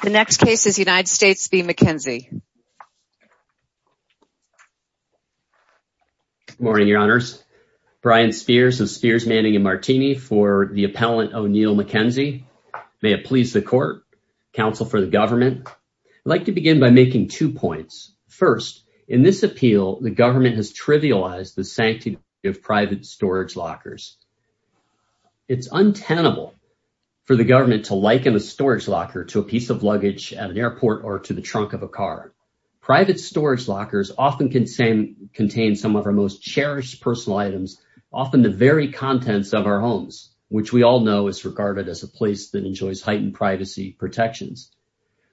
Good morning, your honors. Brian Spears of Spears Manning & Martini for the appellant O'Neill McKenzie. May it please the court, counsel for the government. I'd like to begin by making two points. First, in this appeal, the government has trivialized the sanctity of private storage lockers. It's untenable for the government to liken a storage locker to a piece of luggage at an airport or to the trunk of a car. Private storage lockers often contain some of our most cherished personal items, often the very contents of our homes, which we all know is regarded as a place that enjoys heightened privacy protections.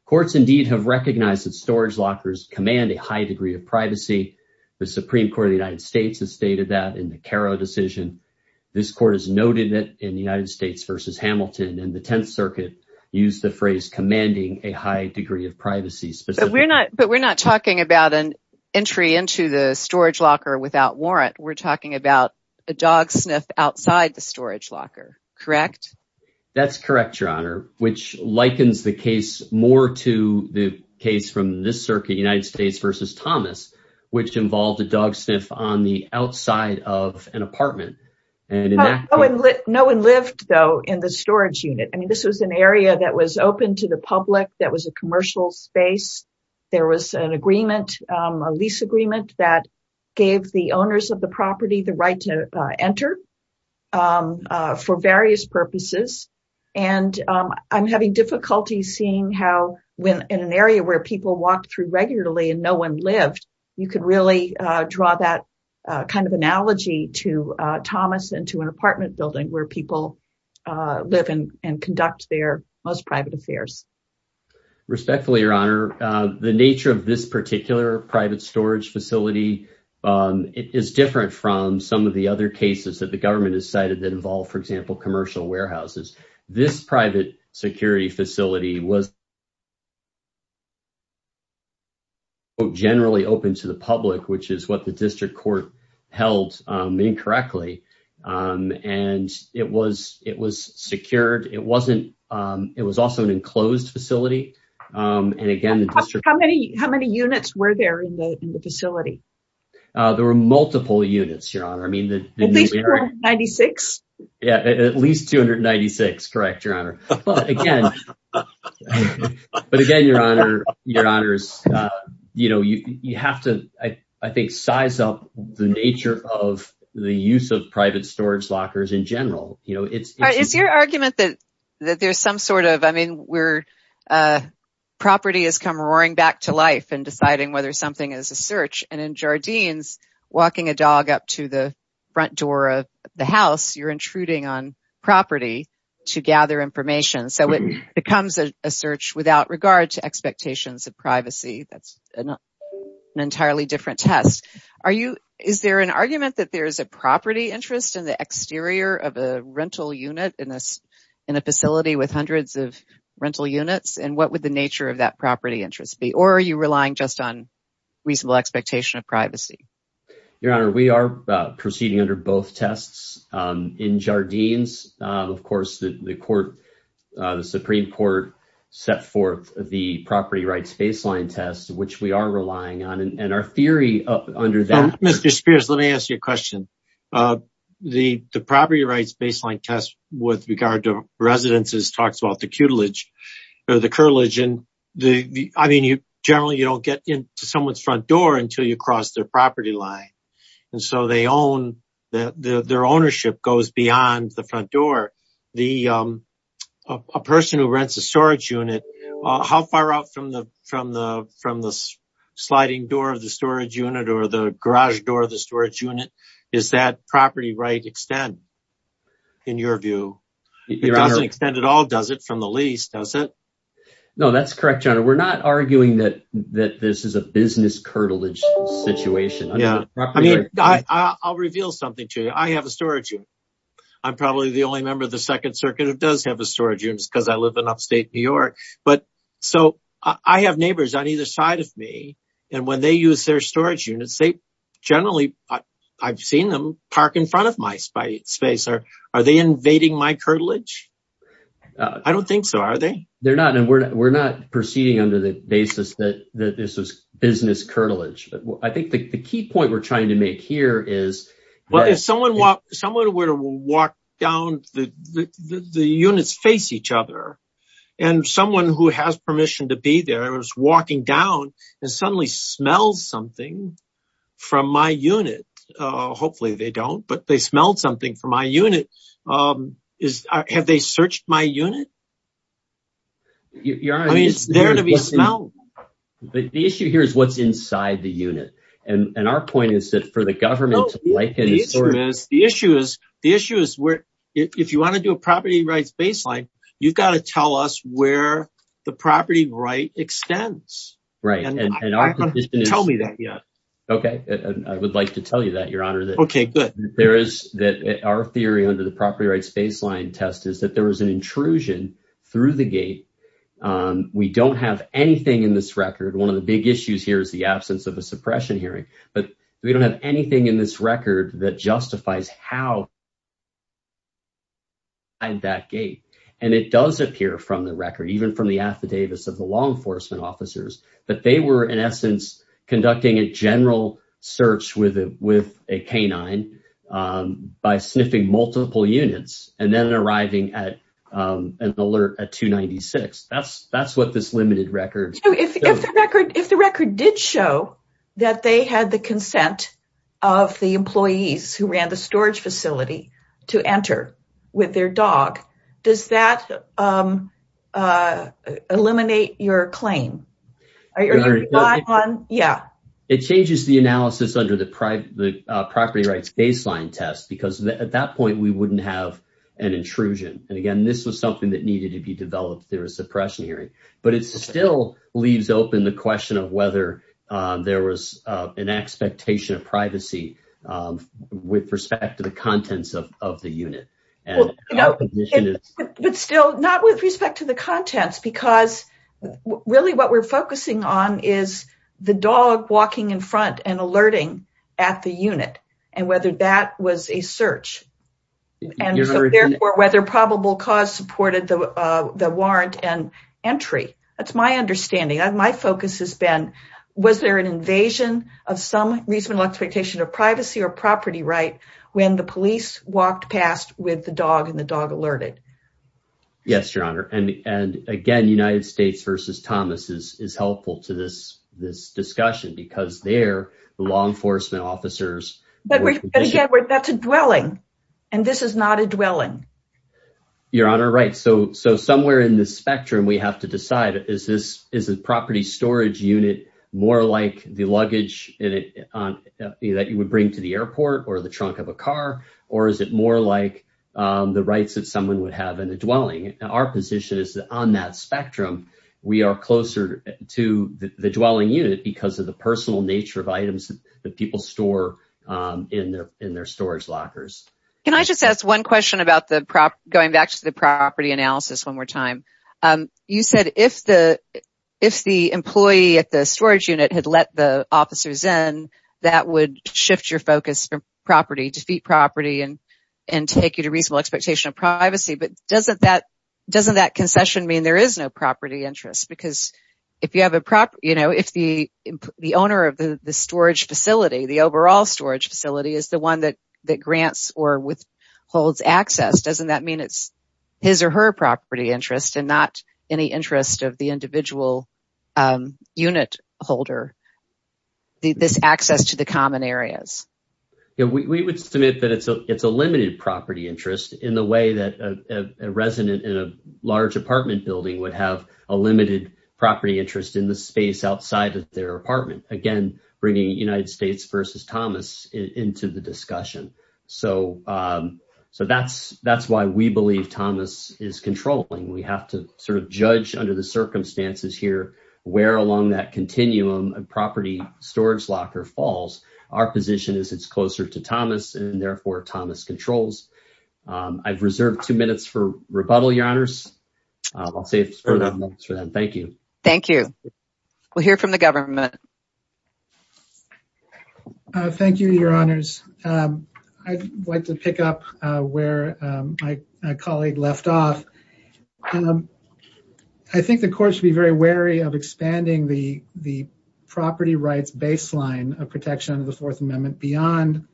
Courts indeed have recognized that storage lockers command a high degree of privacy. The Supreme Court of the United States has stated that in the Caro decision. This court has noted that in the United States v. Hamilton and the Tenth Circuit used the phrase commanding a high degree of privacy. But we're not talking about an entry into the storage locker without warrant. We're talking about a dog sniff outside the storage locker, correct? That's correct, your honor, which likens the case more to the case from this circuit, United States v. Thomas, which involved a dog sniff on the outside of an apartment. No one lived, though, in the storage unit. I mean, this was an area that was open to the public. That was a commercial space. There was an agreement, a lease agreement that gave the owners of the property the right to enter for various purposes. And I'm having difficulty seeing how when in an area where people walked through regularly and no one lived, you could really draw that kind of analogy to Thomas into an apartment building where people live in and conduct their most private affairs. Respectfully, your honor, the nature of this particular private storage facility is different from some of the other cases that the government has cited that involve, for example, commercial warehouses. This private security facility was generally open to the public, which is what the district court held incorrectly. And it was secured. It was also an enclosed facility. How many units were there in the facility? There were multiple units, your honor. At least 296? Yeah, at least 296. Correct, your honor. But again, your honors, you have to, I think, size up the nature of the use of private storage lockers in general. Is your argument that there's some sort of, I mean, where property has come roaring back to life and deciding whether something is a search? And in Jardines, walking a dog up to the front door of the house, you're intruding on property to gather information. So it becomes a search without regard to expectations of privacy. That's an entirely different test. Is there an argument that there is a property interest in the exterior of a rental unit in a facility with hundreds of rental units? And what would the nature of that property interest be? Or are you relying just on reasonable expectation of privacy? Your honor, we are proceeding under both tests in Jardines. Of course, the Supreme Court set forth the property rights baseline test, which we are relying on. And our theory under that. Mr. Spears, let me ask you a question. The property rights baseline test with regard to residences talks about the curtilage. And I mean, generally, you don't get into someone's front door until you cross their property line. And so they own, their ownership goes beyond the front door. A person who rents a storage unit, how far out from the sliding door of the storage unit or the garage door of the storage unit, is that property right to extend, in your view? It doesn't extend at all, does it, from the lease, does it? No, that's correct, your honor. We're not arguing that this is a business curtilage situation. I mean, I'll reveal something to you. I have a storage unit. I'm probably the only member of the Second Circuit who does have a storage unit because I live in upstate New York. But so I have neighbors on either side of me. And when they use their storage units, they generally, I've seen them park in front of my space. Are they invading my curtilage? I don't think so. Are they? They're not. And we're not proceeding under the basis that this is business curtilage. But I think the key point we're trying to make here is. But if someone were to walk down, the units face each other, and someone who has permission to be there is walking down and suddenly smells something from my unit. Hopefully they don't, but they smelled something from my unit. Have they searched my unit? I mean, it's there to be smelled. But the issue here is what's inside the unit. And our point is that for the government to liken this. The issue is the issue is where if you want to do a property rights baseline, you've got to tell us where the property right extends. Right. And tell me that yet. OK, I would like to tell you that, Your Honor. OK, good. There is that our theory under the property rights baseline test is that there was an intrusion through the gate. We don't have anything in this record. One of the big issues here is the absence of a suppression hearing. But we don't have anything in this record that justifies how. And that gate and it does appear from the record, even from the affidavits of the law enforcement officers, that they were, in essence, conducting a general search with with a canine by sniffing multiple units and then arriving at an alert at two ninety six. That's that's what this limited record. So if the record if the record did show that they had the consent of the employees who ran the storage facility to enter with their dog, does that eliminate your claim on? Yeah, it changes the analysis under the property rights baseline test, because at that point we wouldn't have an intrusion. And again, this was something that needed to be developed. There was suppression hearing, but it still leaves open the question of whether there was an expectation of privacy with respect to the contents of the unit. But still not with respect to the contents, because really what we're focusing on is the dog walking in front and alerting at the unit and whether that was a search. And therefore, whether probable cause supported the warrant and entry. That's my understanding. My focus has been was there an invasion of some reasonable expectation of privacy or property right when the police walked past with the dog and the dog alerted? Yes, your honor. And again, United States versus Thomas is helpful to this this discussion because they're the law enforcement officers. But again, that's a dwelling and this is not a dwelling. Your honor. Right. So so somewhere in the spectrum, we have to decide is this is a property storage unit more like the luggage that you would bring to the airport or the trunk of a car? Or is it more like the rights that someone would have in the dwelling? Our position is that on that spectrum, we are closer to the dwelling unit because of the personal nature of items that people store in their in their storage lockers. Can I just ask one question about the prop going back to the property analysis one more time? You said if the if the employee at the storage unit had let the officers in, that would shift your focus from property, defeat property and and take you to reasonable expectation of privacy. But doesn't that doesn't that concession mean there is no property interest? Because if you have a prop, you know, if the the owner of the storage facility, the overall storage facility is the one that that grants or withholds access, doesn't that mean it's his or her property interest and not any interest of the individual unit holder? This access to the common areas? Yeah, we would submit that it's a it's a limited property interest in the way that a resident in a large apartment building would have a limited property interest in the space outside of their apartment. Again, bringing United States versus Thomas into the discussion. So so that's that's why we believe Thomas is controlling. We have to sort of judge under the circumstances here where along that continuum and property storage locker falls. Our position is it's closer to Thomas and therefore Thomas controls. I've reserved two minutes for rebuttal, your honors. I'll save for that. Thank you. Thank you. We'll hear from the government. Thank you, your honors. I'd like to pick up where my colleague left off. I think the courts be very wary of expanding the the property rights baseline of protection of the Fourth Amendment beyond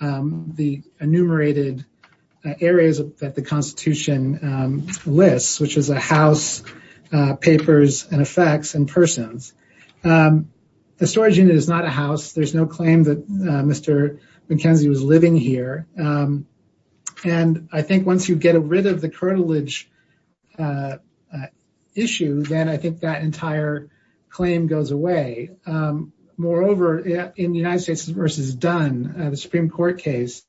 the enumerated areas that the Constitution lists, which is a house papers and effects and persons. The storage unit is not a house. There's no claim that Mr. McKenzie was living here. And I think once you get rid of the cartilage issue, then I think that entire claim goes away. Moreover, in the United States versus Dunn, the Supreme Court case,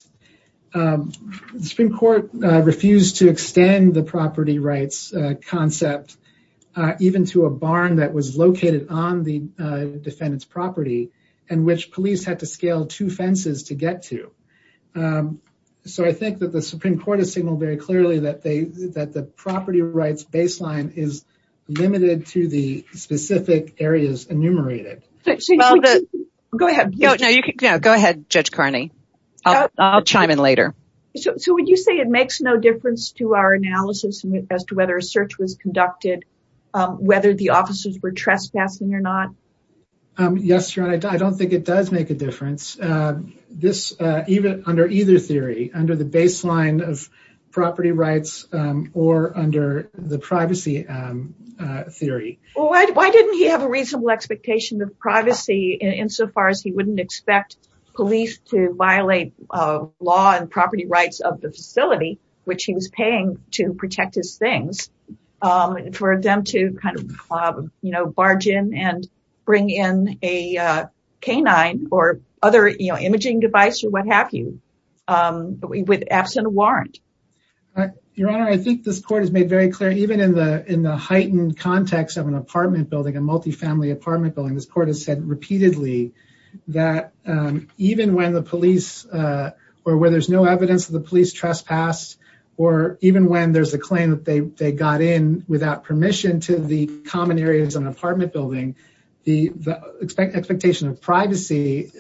the Supreme Court refused to extend the property rights concept even to a barn that was located on the defendant's property and which police had to scale two fences to get to. So I think that the Supreme Court has signaled very clearly that the property rights baseline is limited to the specific areas enumerated. Go ahead. Go ahead, Judge Carney. I'll chime in later. So would you say it makes no difference to our analysis as to whether a search was conducted, whether the officers were trespassing or not? Yes, your honor. I don't think it does make a difference. This even under either theory, under the baseline of property rights or under the privacy theory. Why didn't he have a reasonable expectation of privacy insofar as he wouldn't expect police to violate law and property rights of the facility, which he was paying to protect his things, for them to kind of barge in and bring in a canine or other imaging device or what have you with absent a warrant? Your honor, I think this court has made very clear, even in the heightened context of an apartment building, a multifamily apartment building, this court has said repeatedly that even when the police, or where there's no evidence of the police trespassed, or even when there's a claim that they got in without permission to the common areas of an apartment building, the expectation of privacy,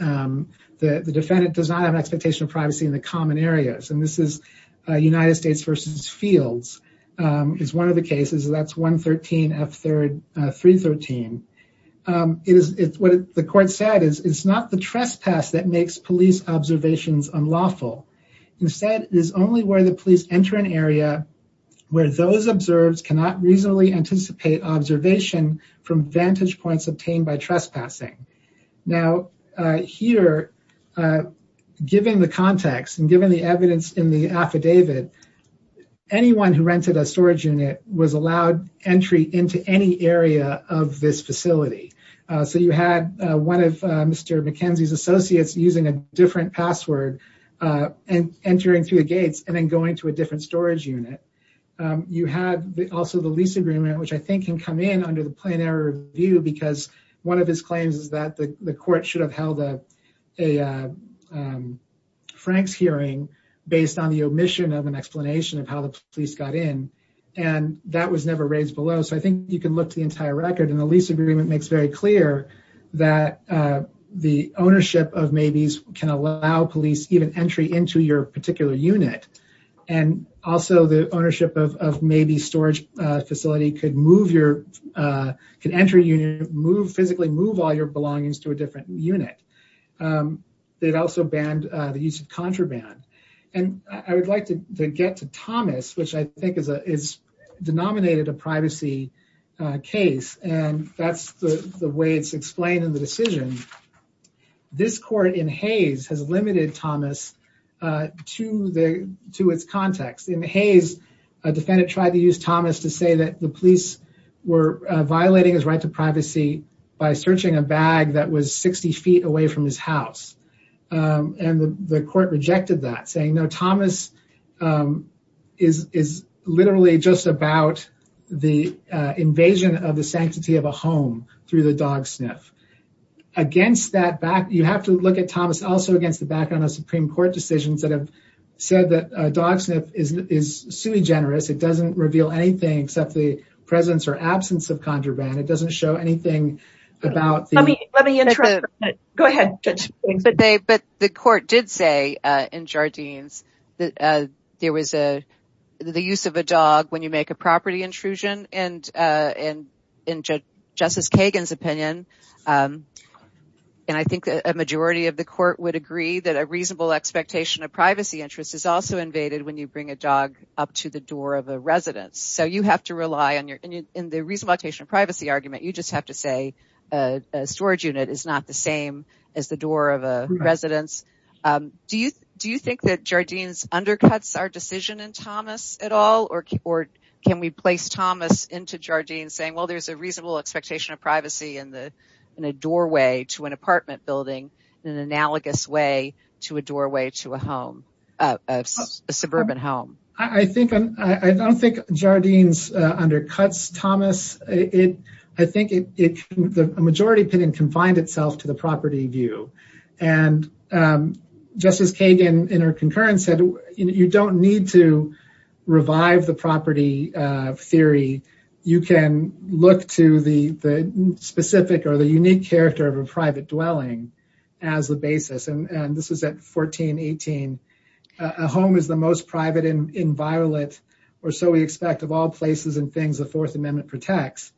the defendant does not have an expectation of privacy in the common areas. And this is United States v. Fields is one of the cases. That's 113 F 313. It is what the court said is it's not the trespass that makes police observations unlawful. Instead, it is only where the police enter an area where those observed cannot reasonably anticipate observation from vantage points obtained by trespassing. Now, here, given the context and given the evidence in the affidavit, anyone who rented a storage unit was allowed entry into any area of this facility. So you had one of Mr. McKenzie's associates using a different password and entering through the gates and then going to a different storage unit. You had also the lease agreement, which I think can come in under the plain error view because one of his claims is that the court should have held a Frank's hearing based on the omission of an explanation of how the police got in and that was never raised below. So I think you can look to the entire record and the lease agreement makes very clear that The ownership of maybes can allow police even entry into your particular unit and also the ownership of may be storage facility could move your can enter you move physically move all your belongings to a different unit. They've also banned the use of contraband and I would like to get to Thomas, which I think is a is denominated a privacy case. And that's the way it's explained in the decision. This court in Hayes has limited Thomas to the to its context in Hayes a defendant tried to use Thomas to say that the police were violating his right to privacy by searching a bag that was 60 feet away from his house and the court rejected that saying no Thomas Is is literally just about the invasion of the sanctity of a home through the dog sniff against that back. You have to look at Thomas also against the background of Supreme Court decisions that have said that dog sniff is is sui generis. It doesn't reveal anything except the presence or absence of contraband. It doesn't show anything about Go ahead, but they but the court did say in Jardines that there was a the use of a dog. When you make a property intrusion and and into Justice Kagan's opinion. And I think a majority of the court would agree that a reasonable expectation of privacy interest is also invaded when you bring a dog up to the door of a residence. So you have to rely on your in the reason why patient privacy argument. You just have to say a storage unit is not the same as the door of a residence. Do you do you think that Jardines undercuts our decision and Thomas at all or or can we place Thomas into Jardines saying, well, there's a reasonable expectation of privacy in the in a doorway to an apartment building in an analogous way to a doorway to a home suburban home. I think I don't think Jardines undercuts Thomas it. I think it can the majority opinion confined itself to the property view and Justice Kagan in her concurrence said you don't need to revive the property theory, you can look to the specific or the unique character of a private dwelling As the basis and this is at 1418 a home is the most private in violet or so we expect of all places and things. The Fourth Amendment protects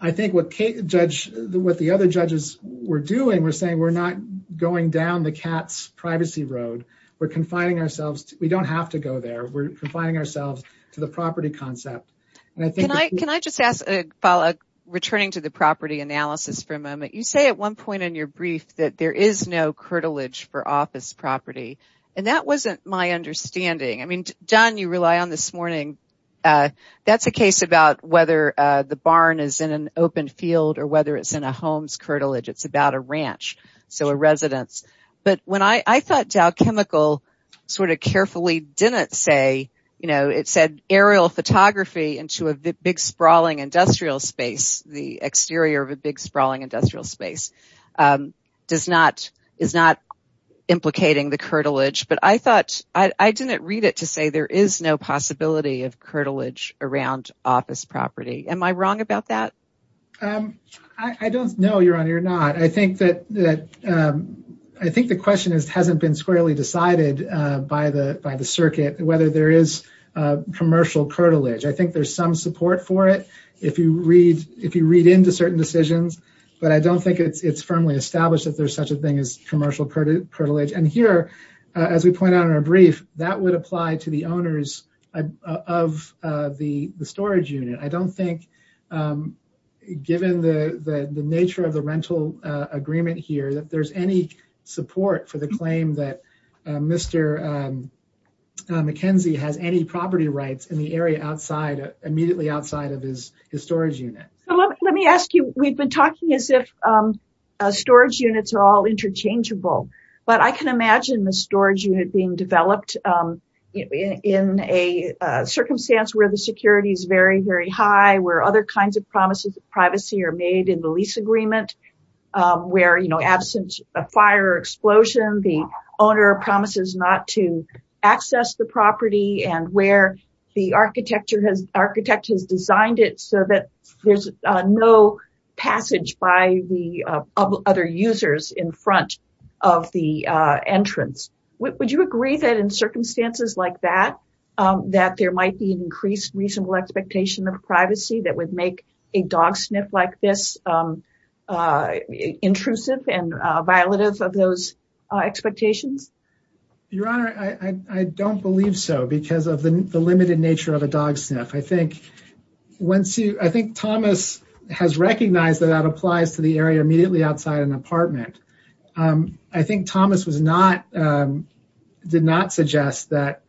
I think what Kate judge the what the other judges were doing. We're saying we're not going down the cat's privacy road. We're confining ourselves. We don't have to go there. We're confining ourselves to the property concept. Can I just ask a follow up returning to the property analysis for a moment. You say at one point in your brief that there is no curtilage for office property and that wasn't my understanding. I mean, John, you rely on this morning. That's a case about whether the barn is in an open field or whether it's in a home's curtilage. It's about a ranch. So a residence. But when I thought Dow Chemical sort of carefully didn't say, you know, it said aerial photography into a big sprawling industrial space, the exterior of a big sprawling industrial space. Does not is not implicating the curtilage, but I thought I didn't read it to say there is no possibility of curtilage around office property. Am I wrong about that. I don't know. You're on. You're not. I think that that I think the question is hasn't been squarely decided by the by the circuit, whether there is commercial curtilage. I think there's some support for it. If you read into certain decisions, but I don't think it's firmly established that there's such a thing as commercial curtilage. And here, as we point out in our brief, that would apply to the owners of the storage unit. I don't think given the nature of the rental agreement here that there's any support for the claim that Mr. McKenzie has any property rights in the area outside immediately outside of his storage unit. Let me ask you, we've been talking as if storage units are all interchangeable, but I can imagine the storage unit being developed in a circumstance where the security is very, very high, where other kinds of promises of privacy are made in the lease agreement. Where, you know, absence of fire or explosion, the owner promises not to access the property and where the architecture has architect has designed it so that there's no passage by the other users in front of the entrance. Would you agree that in circumstances like that, that there might be increased reasonable expectation of privacy that would make a dog sniff like this intrusive and violative of those expectations? Your Honor, I don't believe so because of the limited nature of a dog sniff. I think Thomas has recognized that that applies to the area immediately outside an apartment. I think Thomas did not suggest that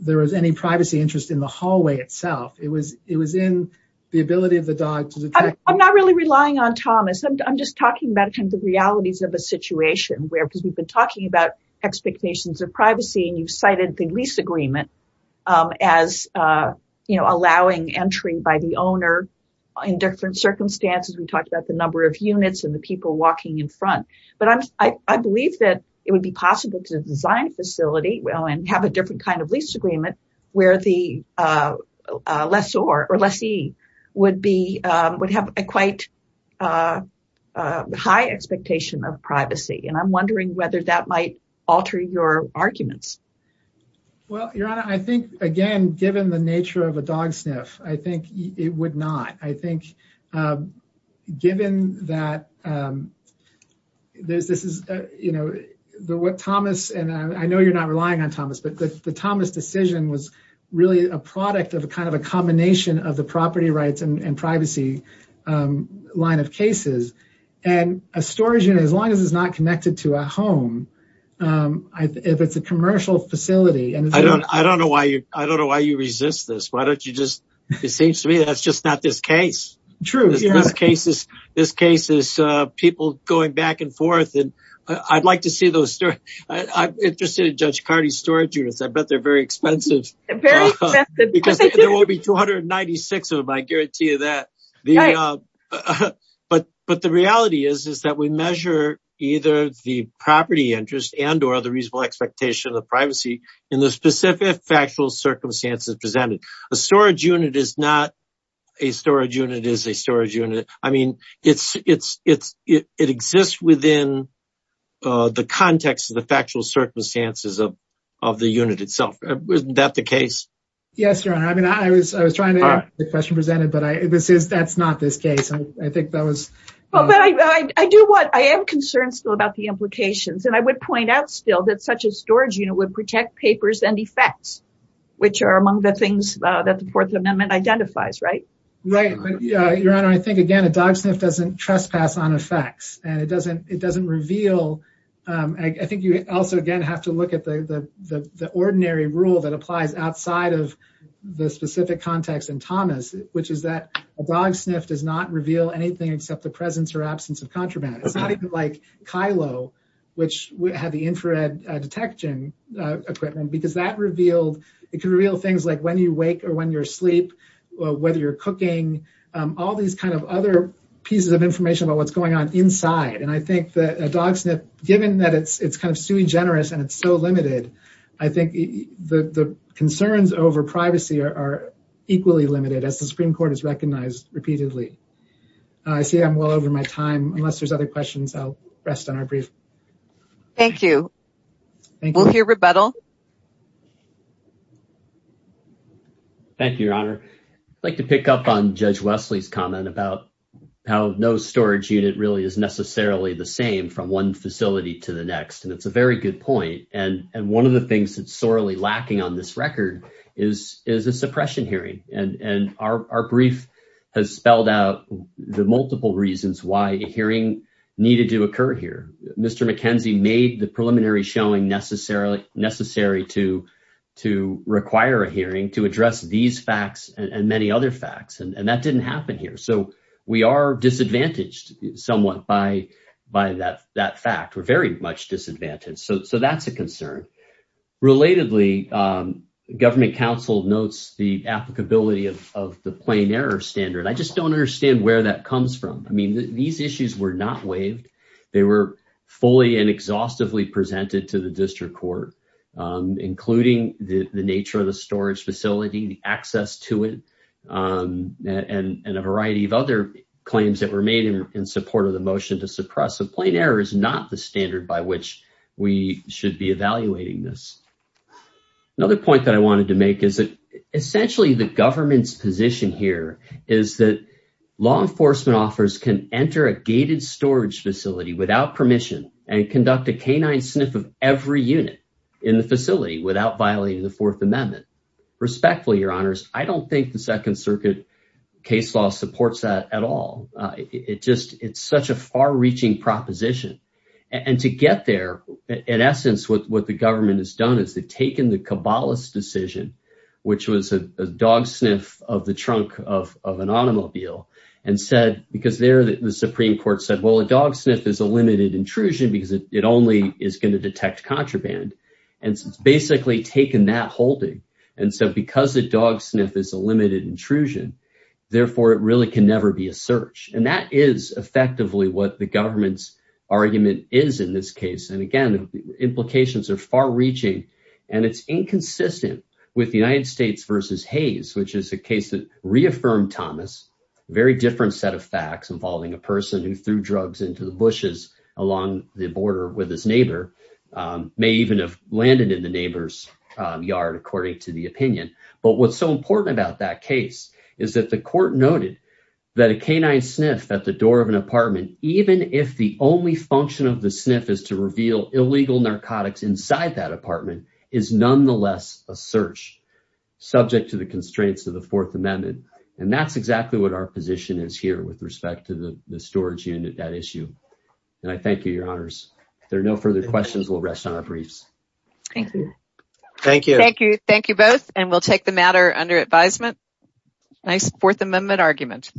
there was any privacy interest in the hallway itself. It was in the ability of the dog to detect. I'm not really relying on Thomas. I'm just talking about the realities of a situation where because we've been talking about expectations of privacy and you cited the lease agreement as allowing entry by the owner in different circumstances. We talked about the number of units and the people walking in front. But I believe that it would be possible to design a facility and have a different kind of lease agreement where the lessor or lessee would have a quite high expectation of privacy. And I'm wondering whether that might alter your arguments. Well, Your Honor, I think, again, given the nature of a dog sniff, I think it would not. I think given that this is, you know, what Thomas and I know you're not relying on Thomas, but the Thomas decision was really a product of a kind of a combination of the property rights and privacy line of cases. And a storage unit, as long as it's not connected to a home, if it's a commercial facility. I don't know why you resist this. Why don't you just, it seems to me that's just not this case. True. This case is people going back and forth. And I'd like to see those. I'm interested in Judge Cardi's storage units. I bet they're very expensive. Very expensive. Because there will be 296 of them, I guarantee you that. But the reality is, is that we measure either the property interest and or the reasonable expectation of privacy in the specific factual circumstances presented. A storage unit is not a storage unit is a storage unit. I mean, it exists within the context of the factual circumstances of the unit itself. Isn't that the case? Yes, Your Honor. I mean, I was, I was trying to get the question presented, but I, this is, that's not this case. I think that was. I do what I am concerned still about the implications. And I would point out still that such a storage unit would protect papers and effects, which are among the things that the Fourth Amendment identifies. Right? Your Honor, I think, again, a dog sniff doesn't trespass on effects and it doesn't, it doesn't reveal. I think you also, again, have to look at the ordinary rule that applies outside of the specific context in Thomas, which is that a dog sniff does not reveal anything except the presence or absence of contraband. It's not even like Kylo, which had the infrared detection equipment, because that revealed, it could reveal things like when you wake or when you're asleep, whether you're cooking, all these kind of other pieces of information about what's going on inside. And I think that a dog sniff, given that it's, it's kind of sui generis and it's so limited, I think the concerns over privacy are equally limited as the Supreme Court has recognized repeatedly. I see I'm well over my time, unless there's other questions, I'll rest on our brief. Thank you. We'll hear rebuttal. Thank you, Your Honor. I'd like to pick up on Judge Wesley's comment about how no storage unit really is necessarily the same from one facility to the next. And it's a very good point. And, and one of the things that's sorely lacking on this record is, is a suppression hearing. And our brief has spelled out the multiple reasons why a hearing needed to occur here. Mr. McKenzie made the preliminary showing necessary to require a hearing to address these facts and many other facts. And that didn't happen here. So we are disadvantaged somewhat by that fact. We're very much disadvantaged. So that's a concern. Relatedly, Government Counsel notes the applicability of the plain error standard. I just don't understand where that comes from. I mean, these issues were not waived. They were fully and exhaustively presented to the district court, including the nature of the storage facility, the access to it, and a variety of other claims that were made in support of the motion to suppress. So plain error is not the standard by which we should be evaluating this. Another point that I wanted to make is that essentially the government's position here is that law enforcement offers can enter a gated storage facility without permission and conduct a canine sniff of every unit in the facility without violating the Fourth Amendment. Respectfully, Your Honors, I don't think the Second Circuit case law supports that at all. It's such a far-reaching proposition. And to get there, in essence, what the government has done is they've taken the Cabalas decision, which was a dog sniff of the trunk of an automobile, and said, because there the Supreme Court said, well, a dog sniff is a limited intrusion because it only is going to detect contraband. And so it's basically taken that holding. And so because a dog sniff is a limited intrusion, therefore, it really can never be a search. And that is effectively what the government's argument is in this case. And again, the implications are far-reaching, and it's inconsistent with the United States v. Hayes, which is a case that reaffirmed Thomas, a very different set of facts involving a person who threw drugs into the bushes along the border with his neighbor, may even have landed in the neighbor's yard, according to the opinion. But what's so important about that case is that the court noted that a canine sniff at the door of an apartment, even if the only function of the sniff is to reveal illegal narcotics inside that apartment, is nonetheless a search subject to the constraints of the Fourth Amendment. And that's exactly what our position is here with respect to the storage unit, that issue. And I thank you, Your Honors. If there are no further questions, we'll rest on our briefs. Thank you. Thank you both, and we'll take the matter under advisement. Nice Fourth Amendment argument.